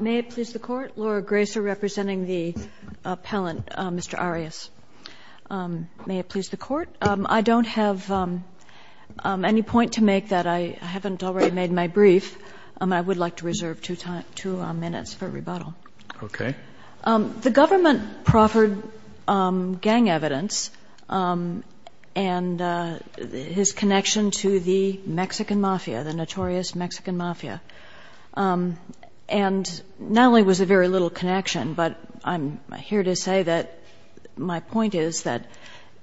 May it please the Court, Laura Gracer representing the appellant, Mr. Arias. May it please the Court, I don't have any point to make that I haven't already made my brief. I would like to reserve two minutes for rebuttal. Okay. The government proffered gang evidence and his connection to the Mexican mafia, the notorious Mexican mafia, and not only was there very little connection, but I'm here to say that my point is that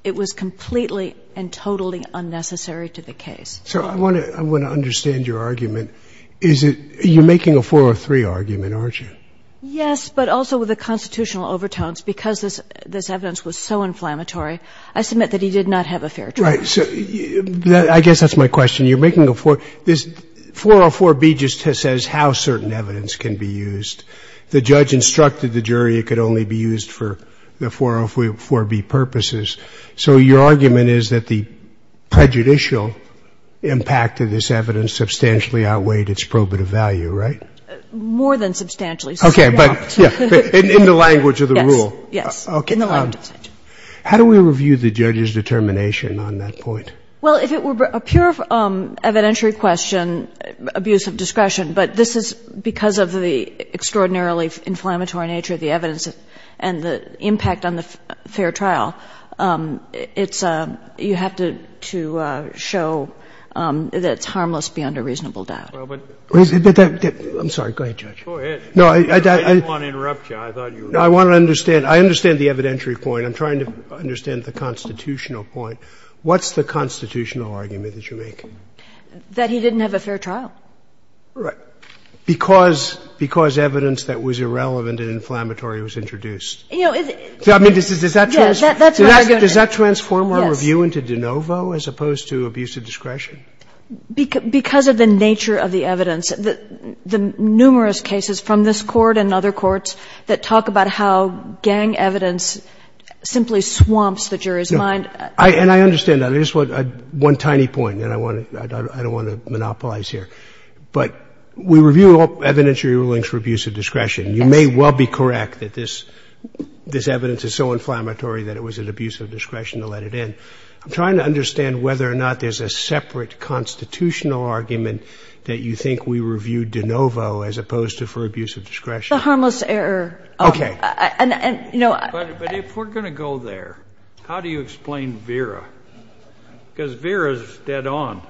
it was completely and totally unnecessary to the case. So I want to understand your argument. You're making a four or three argument, aren't you? Yes, but also with the constitutional overtones. Because this evidence was so inflammatory, I submit that he did not have a fair trial. Right. I guess that's my question. You're making a four. This 404B just says how certain evidence can be used. The judge instructed the jury it could only be used for the 404B purposes. So your argument is that the prejudicial impact of this evidence substantially outweighed its probative value, right? More than substantially. Okay. But in the language of the rule. Yes. Okay. How do we review the judge's determination on that point? Well, if it were a pure evidentiary question, abuse of discretion, but this is because of the extraordinarily inflammatory nature of the evidence and the impact on the fair trial, it's you have to show that it's harmless beyond a reasonable doubt. I'm sorry. Go ahead, Judge. Go ahead. I didn't want to interrupt you. I thought you were going to. No, I want to understand. I understand the evidentiary point. I'm trying to understand the constitutional point. What's the constitutional argument that you're making? That he didn't have a fair trial. Right. Because evidence that was irrelevant and inflammatory was introduced. I mean, does that transform our review into de novo as opposed to abuse of discretion? Because of the nature of the evidence, the numerous cases from this Court and other cases, the evidence simply swamps the jury's mind. And I understand that. I just want one tiny point, and I don't want to monopolize here. But we review all evidentiary rulings for abuse of discretion. You may well be correct that this evidence is so inflammatory that it was an abuse of discretion to let it in. I'm trying to understand whether or not there's a separate constitutional argument that you think we review de novo as opposed to for abuse of discretion. The harmless error. Okay. But if we're going to go there, how do you explain Vera? Because Vera is dead on.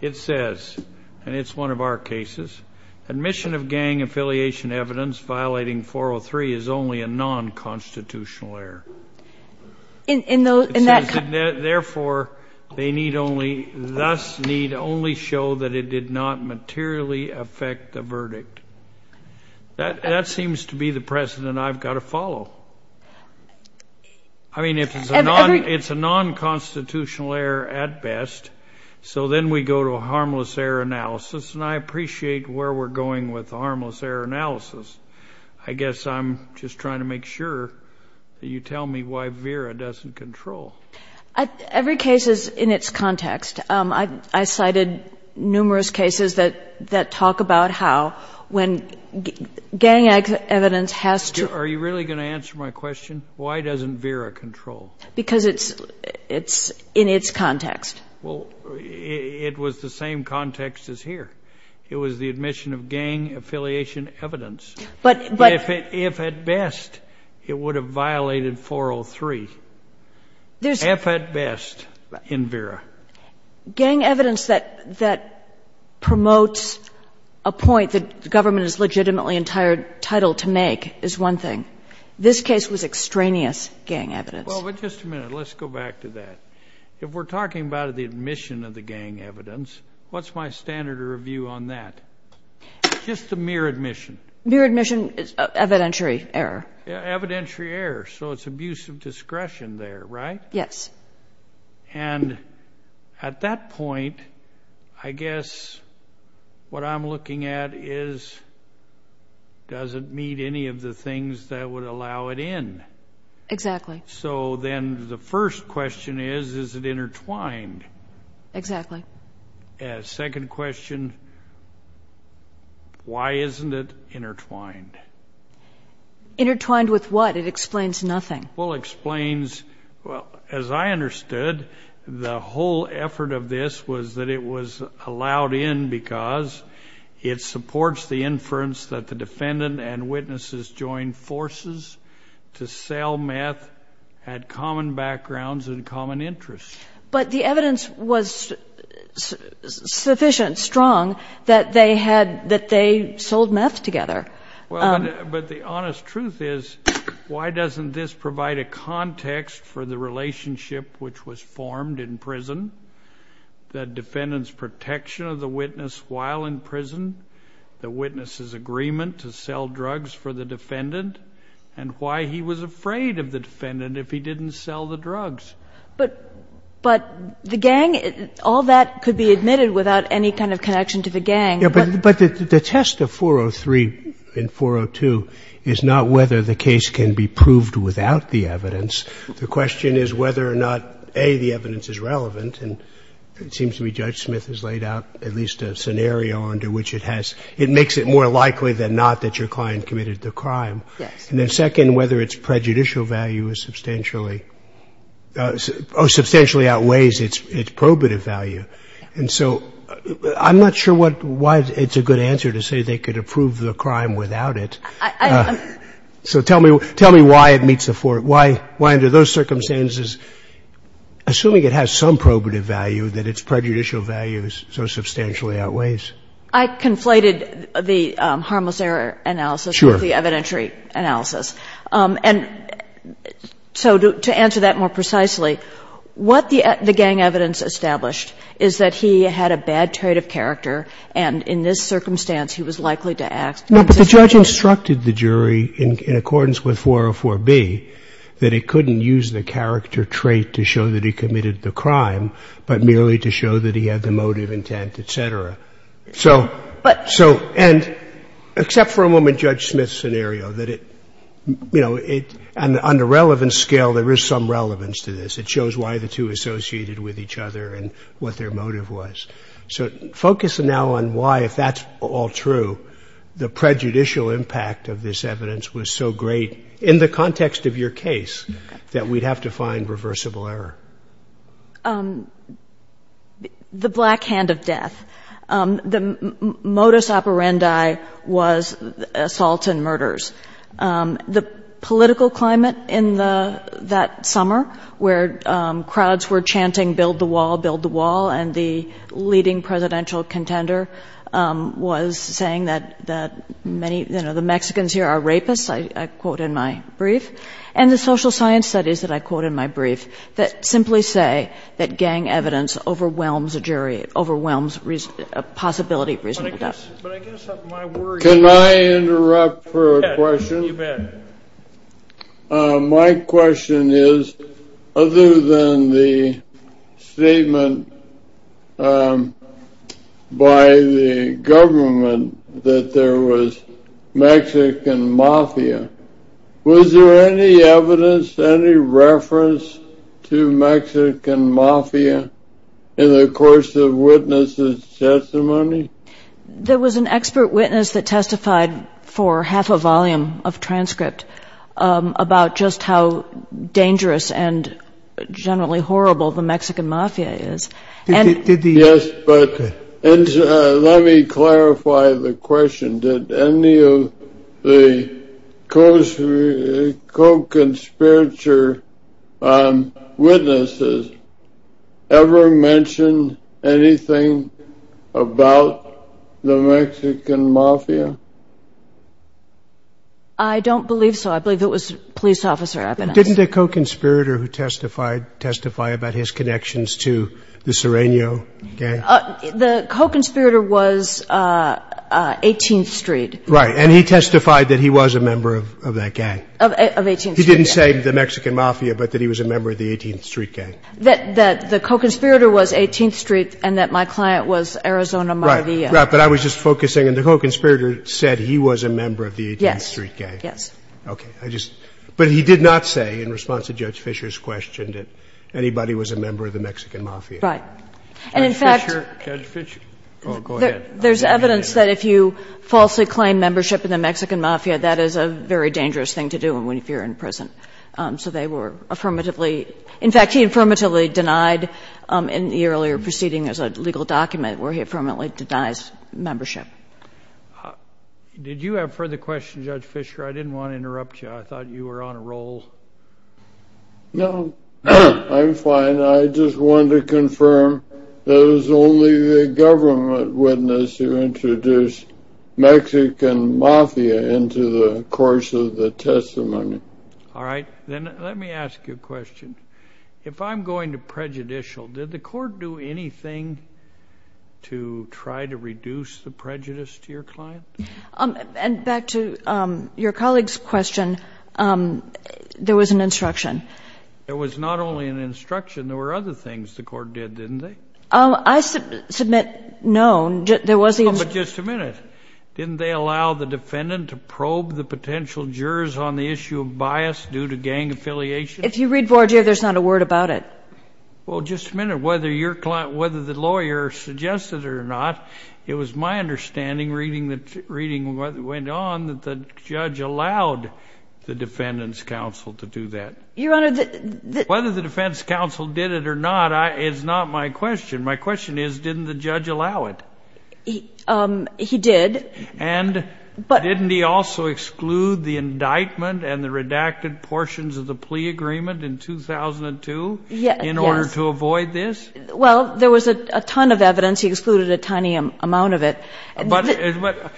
It says, and it's one of our cases, admission of gang affiliation evidence violating 403 is only a non-constitutional error. Therefore, they need only thus need only show that it did not materially affect the verdict. That seems to be the precedent I've got to follow. I mean, it's a non-constitutional error at best. So then we go to a harmless error analysis, and I appreciate where we're going with the harmless error analysis. I guess I'm just trying to make sure that you tell me why Vera doesn't control. Every case is in its context. I cited numerous cases that talk about how when gang evidence has to. Are you really going to answer my question? Why doesn't Vera control? Because it's in its context. Well, it was the same context as here. It was the admission of gang affiliation evidence. But if at best it would have violated 403. If at best in Vera. Gang evidence that promotes a point that government is legitimately entitled to make is one thing. This case was extraneous gang evidence. Well, but just a minute. Let's go back to that. If we're talking about the admission of the gang evidence, what's my standard of review on that? Just the mere admission. Mere admission is evidentiary error. Evidentiary error. So it's abuse of discretion there, right? Yes. And at that point, I guess what I'm looking at is does it meet any of the things that would allow it in? Exactly. So then the first question is, is it intertwined? Exactly. Second question, why isn't it intertwined? Intertwined with what? It explains nothing. Well, it explains, well, as I understood, the whole effort of this was that it was allowed in because it supports the inference that the defendant and witnesses joined forces to sell meth, had common backgrounds and common interests. But the evidence was sufficient, strong, that they had, that they sold meth together. Well, but the honest truth is, why doesn't this provide a context for the relationship which was formed in prison? The defendant's protection of the witness while in prison, the witness's agreement to sell drugs for the defendant, and why he was afraid of the defendant if he didn't sell the drugs. But the gang, all that could be admitted without any kind of connection to the gang. But the test of 403 and 402 is not whether the case can be proved without the evidence. The question is whether or not, A, the evidence is relevant, and it seems to me Judge Smith has laid out at least a scenario under which it has, it makes it more likely than not that your client committed the crime. Yes. And then second, whether its prejudicial value is substantially, or substantially outweighs its probative value. And so I'm not sure what, why it's a good answer to say they could approve the crime without it. So tell me why it meets the four, why under those circumstances, assuming it has some probative value, that its prejudicial value so substantially outweighs. I conflated the harmless error analysis with the evidentiary analysis. And so to answer that more precisely, what the gang evidence established is that he had a bad trait of character, and in this circumstance, he was likely to act. No, but the judge instructed the jury in accordance with 404B that it couldn't use the character trait to show that he committed the crime, but merely to show that he had the motive, intent, et cetera. So, and except for a moment Judge Smith's scenario, that it, you know, and on the relevance scale, there is some relevance to this. It shows why the two associated with each other and what their motive was. So focus now on why, if that's all true, the prejudicial impact of this evidence was so great in the context of your case that we'd have to find reversible error. The black hand of death. The modus operandi was assaults and murders. The political climate in that summer where crowds were chanting build the wall, build the wall, and the leading presidential contender was saying that many, you know, the Mexicans here are rapists, I quote in my brief. And the social science studies that I quote in my brief that simply say that gang evidence overwhelms a jury, overwhelms possibility of reasonable doubt. Can I interrupt for a question? My question is, other than the statement by the government that there was Mexican mafia, was there any evidence, any reference to Mexican mafia in the course of the witness' testimony? There was an expert witness that testified for half a volume of transcript about just how dangerous and generally horrible the Mexican mafia is. Yes, but let me clarify the question. Did any of the co-conspirator witnesses ever mention anything about the Mexican mafia? I don't believe so. I believe it was police officer evidence. Didn't the co-conspirator who testified testify about his connections to the Sereno gang? The co-conspirator was 18th Street. Right. And he testified that he was a member of that gang. Of 18th Street. He didn't say the Mexican mafia, but that he was a member of the 18th Street gang. That the co-conspirator was 18th Street and that my client was Arizona Maivia. Right. But I was just focusing. And the co-conspirator said he was a member of the 18th Street gang. Yes. Okay. But he did not say in response to Judge Fisher's question that anybody was a member of the Mexican mafia. Right. And in fact. Judge Fisher. Go ahead. There's evidence that if you falsely claim membership in the Mexican mafia, that is a very dangerous thing to do if you're in prison. So they were affirmatively. In fact, he affirmatively denied in the earlier proceeding as a legal document where he affirmatively denies membership. Did you have further questions, Judge Fisher? I didn't want to interrupt you. I thought you were on a roll. No, I'm fine. I just wanted to confirm that it was only the government witness who introduced Mexican mafia into the course of the testimony. All right. Then let me ask you a question. If I'm going to prejudicial, did the court do anything to try to reduce the prejudice to your client? And back to your colleague's question, there was an instruction. There was not only an instruction. There were other things the court did, didn't they? I submit no. But just a minute. Didn't they allow the defendant to probe the potential jurors on the issue of bias due to gang affiliation? If you read forward, there's not a word about it. Well, just a minute. Whether the lawyer suggested it or not, it was my understanding reading what went on that the judge allowed the defendant's counsel to do that. Whether the defense counsel did it or not is not my question. My question is, didn't the judge allow it? He did. And didn't he also exclude the indictment and the redacted portions of the plea agreement in 2002 in order to avoid this? Well, there was a ton of evidence. He excluded a tiny amount of it. But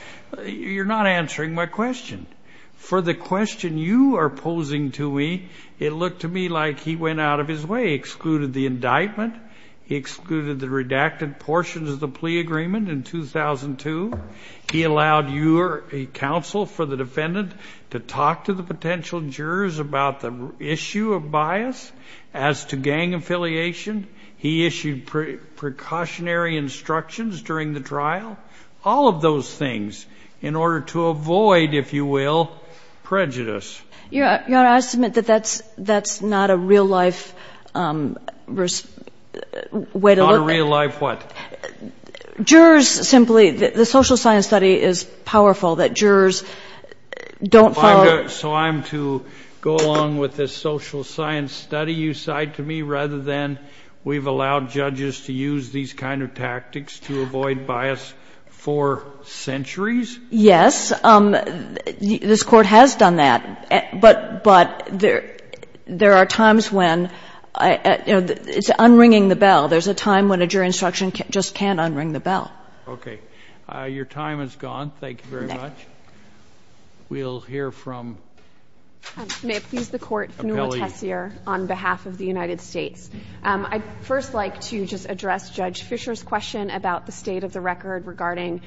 you're not answering my question. For the question you are posing to me, it looked to me like he went out of his way. He excluded the indictment. He excluded the redacted portions of the plea agreement in 2002. He allowed your counsel for the defendant to talk to the potential jurors about the issue of bias as to gang affiliation. He issued precautionary instructions during the trial. All of those things in order to avoid, if you will, prejudice. Your Honor, I submit that that's not a real-life way to look at it. Not a real-life what? Jurors simply, the social science study is powerful that jurors don't follow. So I'm to go along with this social science study you cite to me rather than we've allowed judges to use these kind of tactics to avoid bias for centuries? Yes. This Court has done that. But there are times when, you know, it's unringing the bell. There's a time when a jury instruction just can't unring the bell. Okay. Your time is gone. Thank you very much. We'll hear from appellee. May it please the Court. Appellee. On behalf of the United States. I'd first like to just address Judge Fisher's question about the state of the record regarding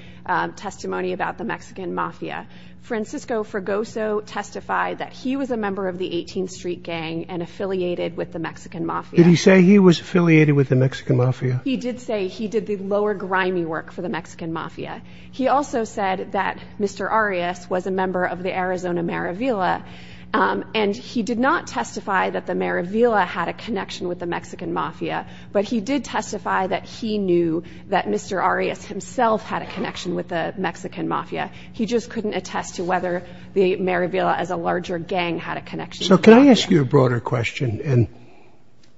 testimony about the Mexican Mafia. Francisco Fragoso testified that he was a member of the 18th Street Gang and affiliated with the Mexican Mafia. Did he say he was affiliated with the Mexican Mafia? He did say he did the lower grimy work for the Mexican Mafia. He also said that Mr. Arias was a member of the Arizona Maravilla and he did not testify that the Maravilla had a connection with the Mexican Mafia, but he did testify that he knew that Mr. Arias himself had a connection with the Mexican Mafia. He just couldn't attest to whether the Maravilla as a larger gang had a connection. So can I ask you a broader question? And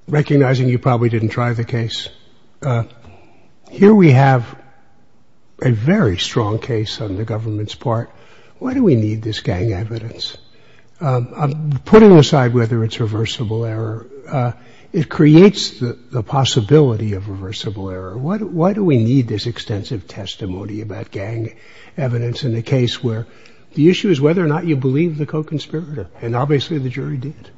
recognizing you probably didn't try the case. Here we have a very strong case on the government's part. Why do we need this gang evidence? Putting aside whether it's reversible error, it creates the possibility of reversible error. Why do we need this extensive testimony about gang evidence in a case where the issue is whether or not you believe the co-conspirator? And obviously the jury did.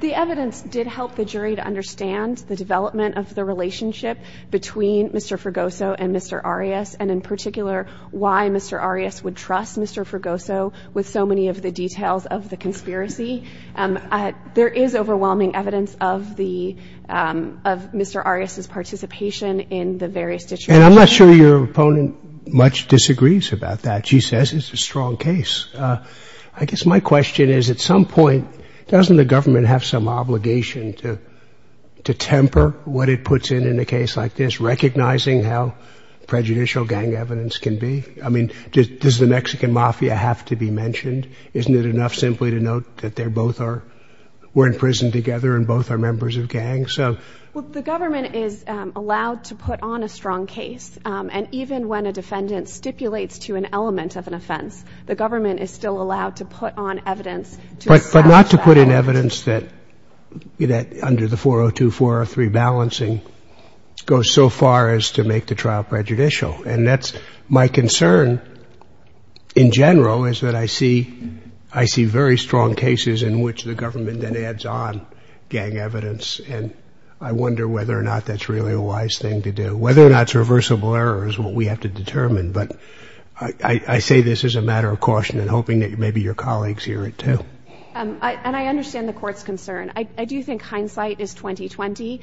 The evidence did help the jury to understand the development of the relationship between Mr. Fregoso and Mr. Arias, and in particular why Mr. Arias would trust Mr. Fregoso with so many of the details of the conspiracy. There is overwhelming evidence of Mr. Arias' participation in the various situations. And I'm not sure your opponent much disagrees about that. She says it's a strong case. I guess my question is, at some point, doesn't the government have some obligation to temper what it puts in in a case like this, recognizing how prejudicial gang evidence can be? I mean, does the Mexican mafia have to be mentioned? Isn't it enough simply to note that they're both are we're in prison together and both are members of gangs? Well, the government is allowed to put on a strong case. And even when a defendant stipulates to an element of an offense, the government is still allowed to put on evidence to assess that. But not to put in evidence that under the 402-403 balancing goes so far as to make the trial prejudicial. And that's my concern in general is that I see very strong cases in which the government then adds on gang evidence. And I wonder whether or not that's really a wise thing to do. Whether or not it's reversible error is what we have to determine. But I say this as a matter of caution and hoping that maybe your colleagues hear it, too. And I understand the court's concern. I do think hindsight is 20-20.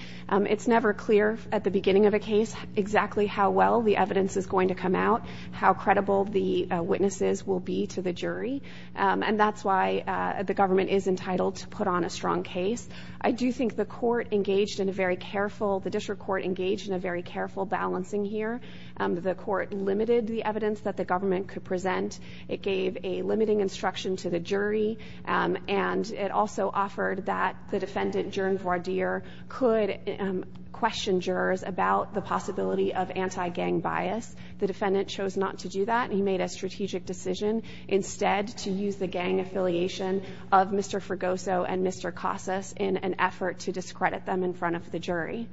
It's never clear at the beginning of a case exactly how well the evidence is going to come out, how credible the witnesses will be to the jury. And that's why the government is entitled to put on a strong case. I do think the court engaged in a very careful, the district court engaged in a very careful balancing here. The court limited the evidence that the government could present. It gave a limiting instruction to the jury. And it also offered that the defendant, Jurn Vardir, could question jurors about the possibility of anti-gang bias. The defendant chose not to do that. He made a strategic decision instead to use the gang affiliation of Mr. Fregoso and Mr. Casas in an effort to discredit them in front of the jury.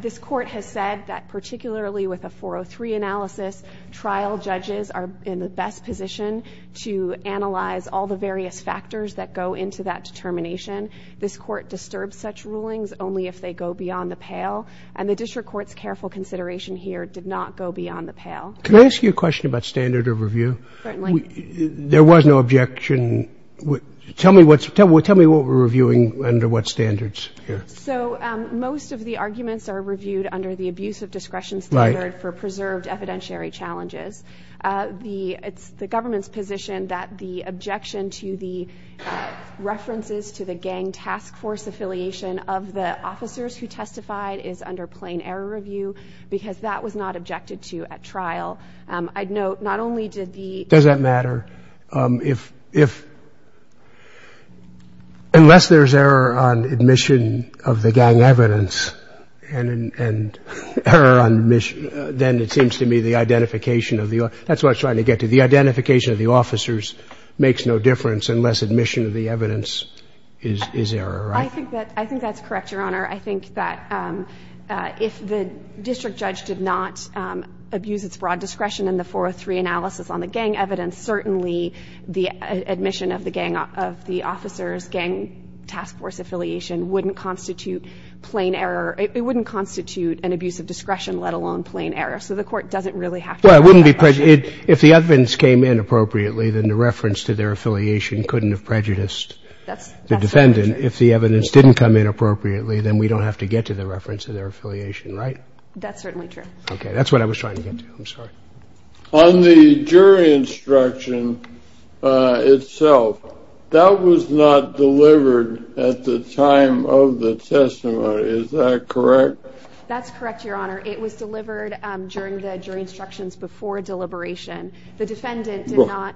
This court has said that particularly with a 403 analysis, trial judges are in the best position to analyze all the various factors that go into that determination. This court disturbs such rulings only if they go beyond the pale. And the district court's careful consideration here did not go beyond the pale. Can I ask you a question about standard of review? Certainly. There was no objection. Tell me what we're reviewing under what standards here. So most of the arguments are reviewed under the abusive discretion standard for preserved evidentiary challenges. It's the government's position that the objection to the references to the gang task force affiliation of the officers who testified is under plain error review because that was not objected to at trial. I'd note not only did the Does that matter? If unless there's error on admission of the gang evidence and error on admission, then it seems to me the identification of the that's what I'm trying to get to. The identification of the officers makes no difference unless admission of the evidence is error. I think that I think that's correct, Your Honor. I think that if the district judge did not abuse its broad discretion in the 403 analysis on the gang evidence, certainly the admission of the gang of the officers gang task force affiliation wouldn't constitute plain error. It wouldn't constitute an abuse of discretion, let alone plain error. So the Court doesn't really have to. Well, it wouldn't be. If the evidence came in appropriately, then the reference to their affiliation couldn't have prejudiced the defendant. If the evidence didn't come in appropriately, then we don't have to get to the reference to their affiliation, right? That's certainly true. Okay, that's what I was trying to get to. I'm sorry. On the jury instruction itself, that was not delivered at the time of the testimony. Is that correct? That's correct, Your Honor. It was delivered during the jury instructions before deliberation. The defendant did not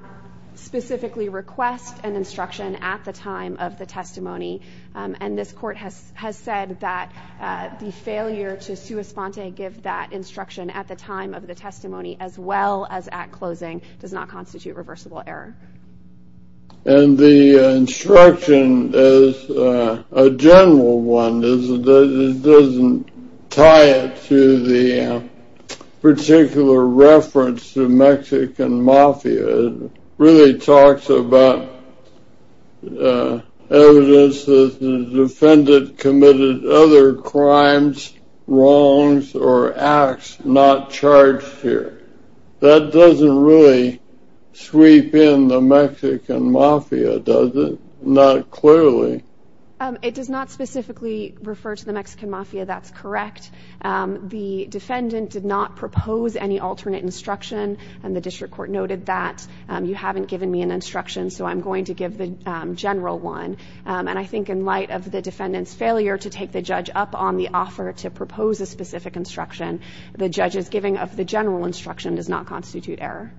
specifically request an instruction at the time of the testimony, and this Court has said that the failure to sua sponte give that instruction at the time of the testimony as well as at closing does not constitute reversible error. And the instruction is a general one. It doesn't tie it to the particular reference to Mexican Mafia. It really talks about evidence that the defendant committed other crimes, wrongs, or acts not charged here. That doesn't really sweep in the Mexican Mafia, does it? Not clearly. It does not specifically refer to the Mexican Mafia. That's correct. The defendant did not propose any alternate instruction, and the District Court noted that. You haven't given me an instruction, so I'm going to give the general one. And I think in light of the defendant's failure to take the judge up on the offer to propose a specific instruction, the judge's giving of the general instruction does not constitute error.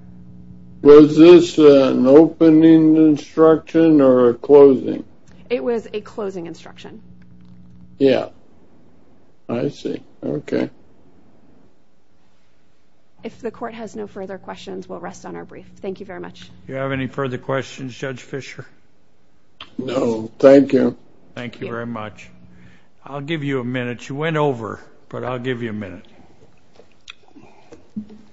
Was this an opening instruction or a closing? It was a closing instruction. Yeah. I see. Okay. If the Court has no further questions, we'll rest on our brief. Thank you very much. Do you have any further questions, Judge Fischer? No. Thank you. Thank you very much. I'll give you a minute. You went over, but I'll give you a minute.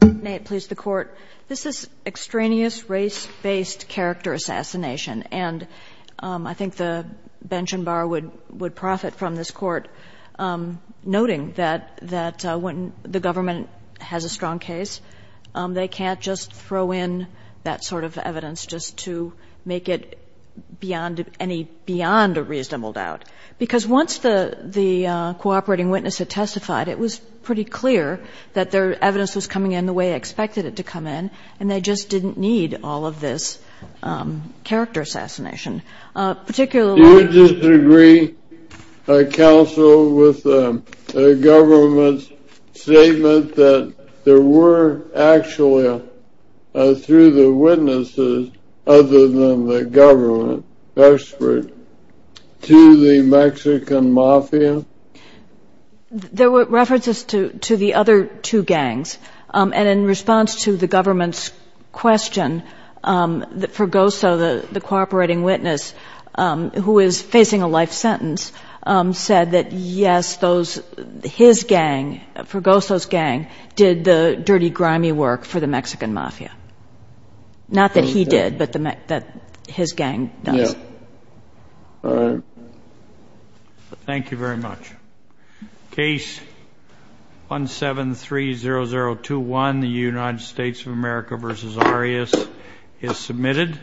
May it please the Court. This is extraneous race-based character assassination, and I think the bench and bar would profit from this Court noting that when the government has a strong case, they can't just throw in that sort of evidence just to make it beyond a reasonable doubt because once the cooperating witness had testified, it was pretty clear that their evidence was coming in the way they expected it to come in, and they just didn't need all of this character assassination. Do you disagree, Counsel, with the government's statement that there were actually, through the witnesses other than the government, expert to the Mexican mafia? There were references to the other two gangs, and in response to the government's question, Fergoso, the cooperating witness who is facing a life sentence, said that, yes, his gang, Fergoso's gang, did the dirty, grimy work for the Mexican mafia. Not that he did, but that his gang does. Thank you very much. Case 1730021, the United States of America v. Arias, is submitted.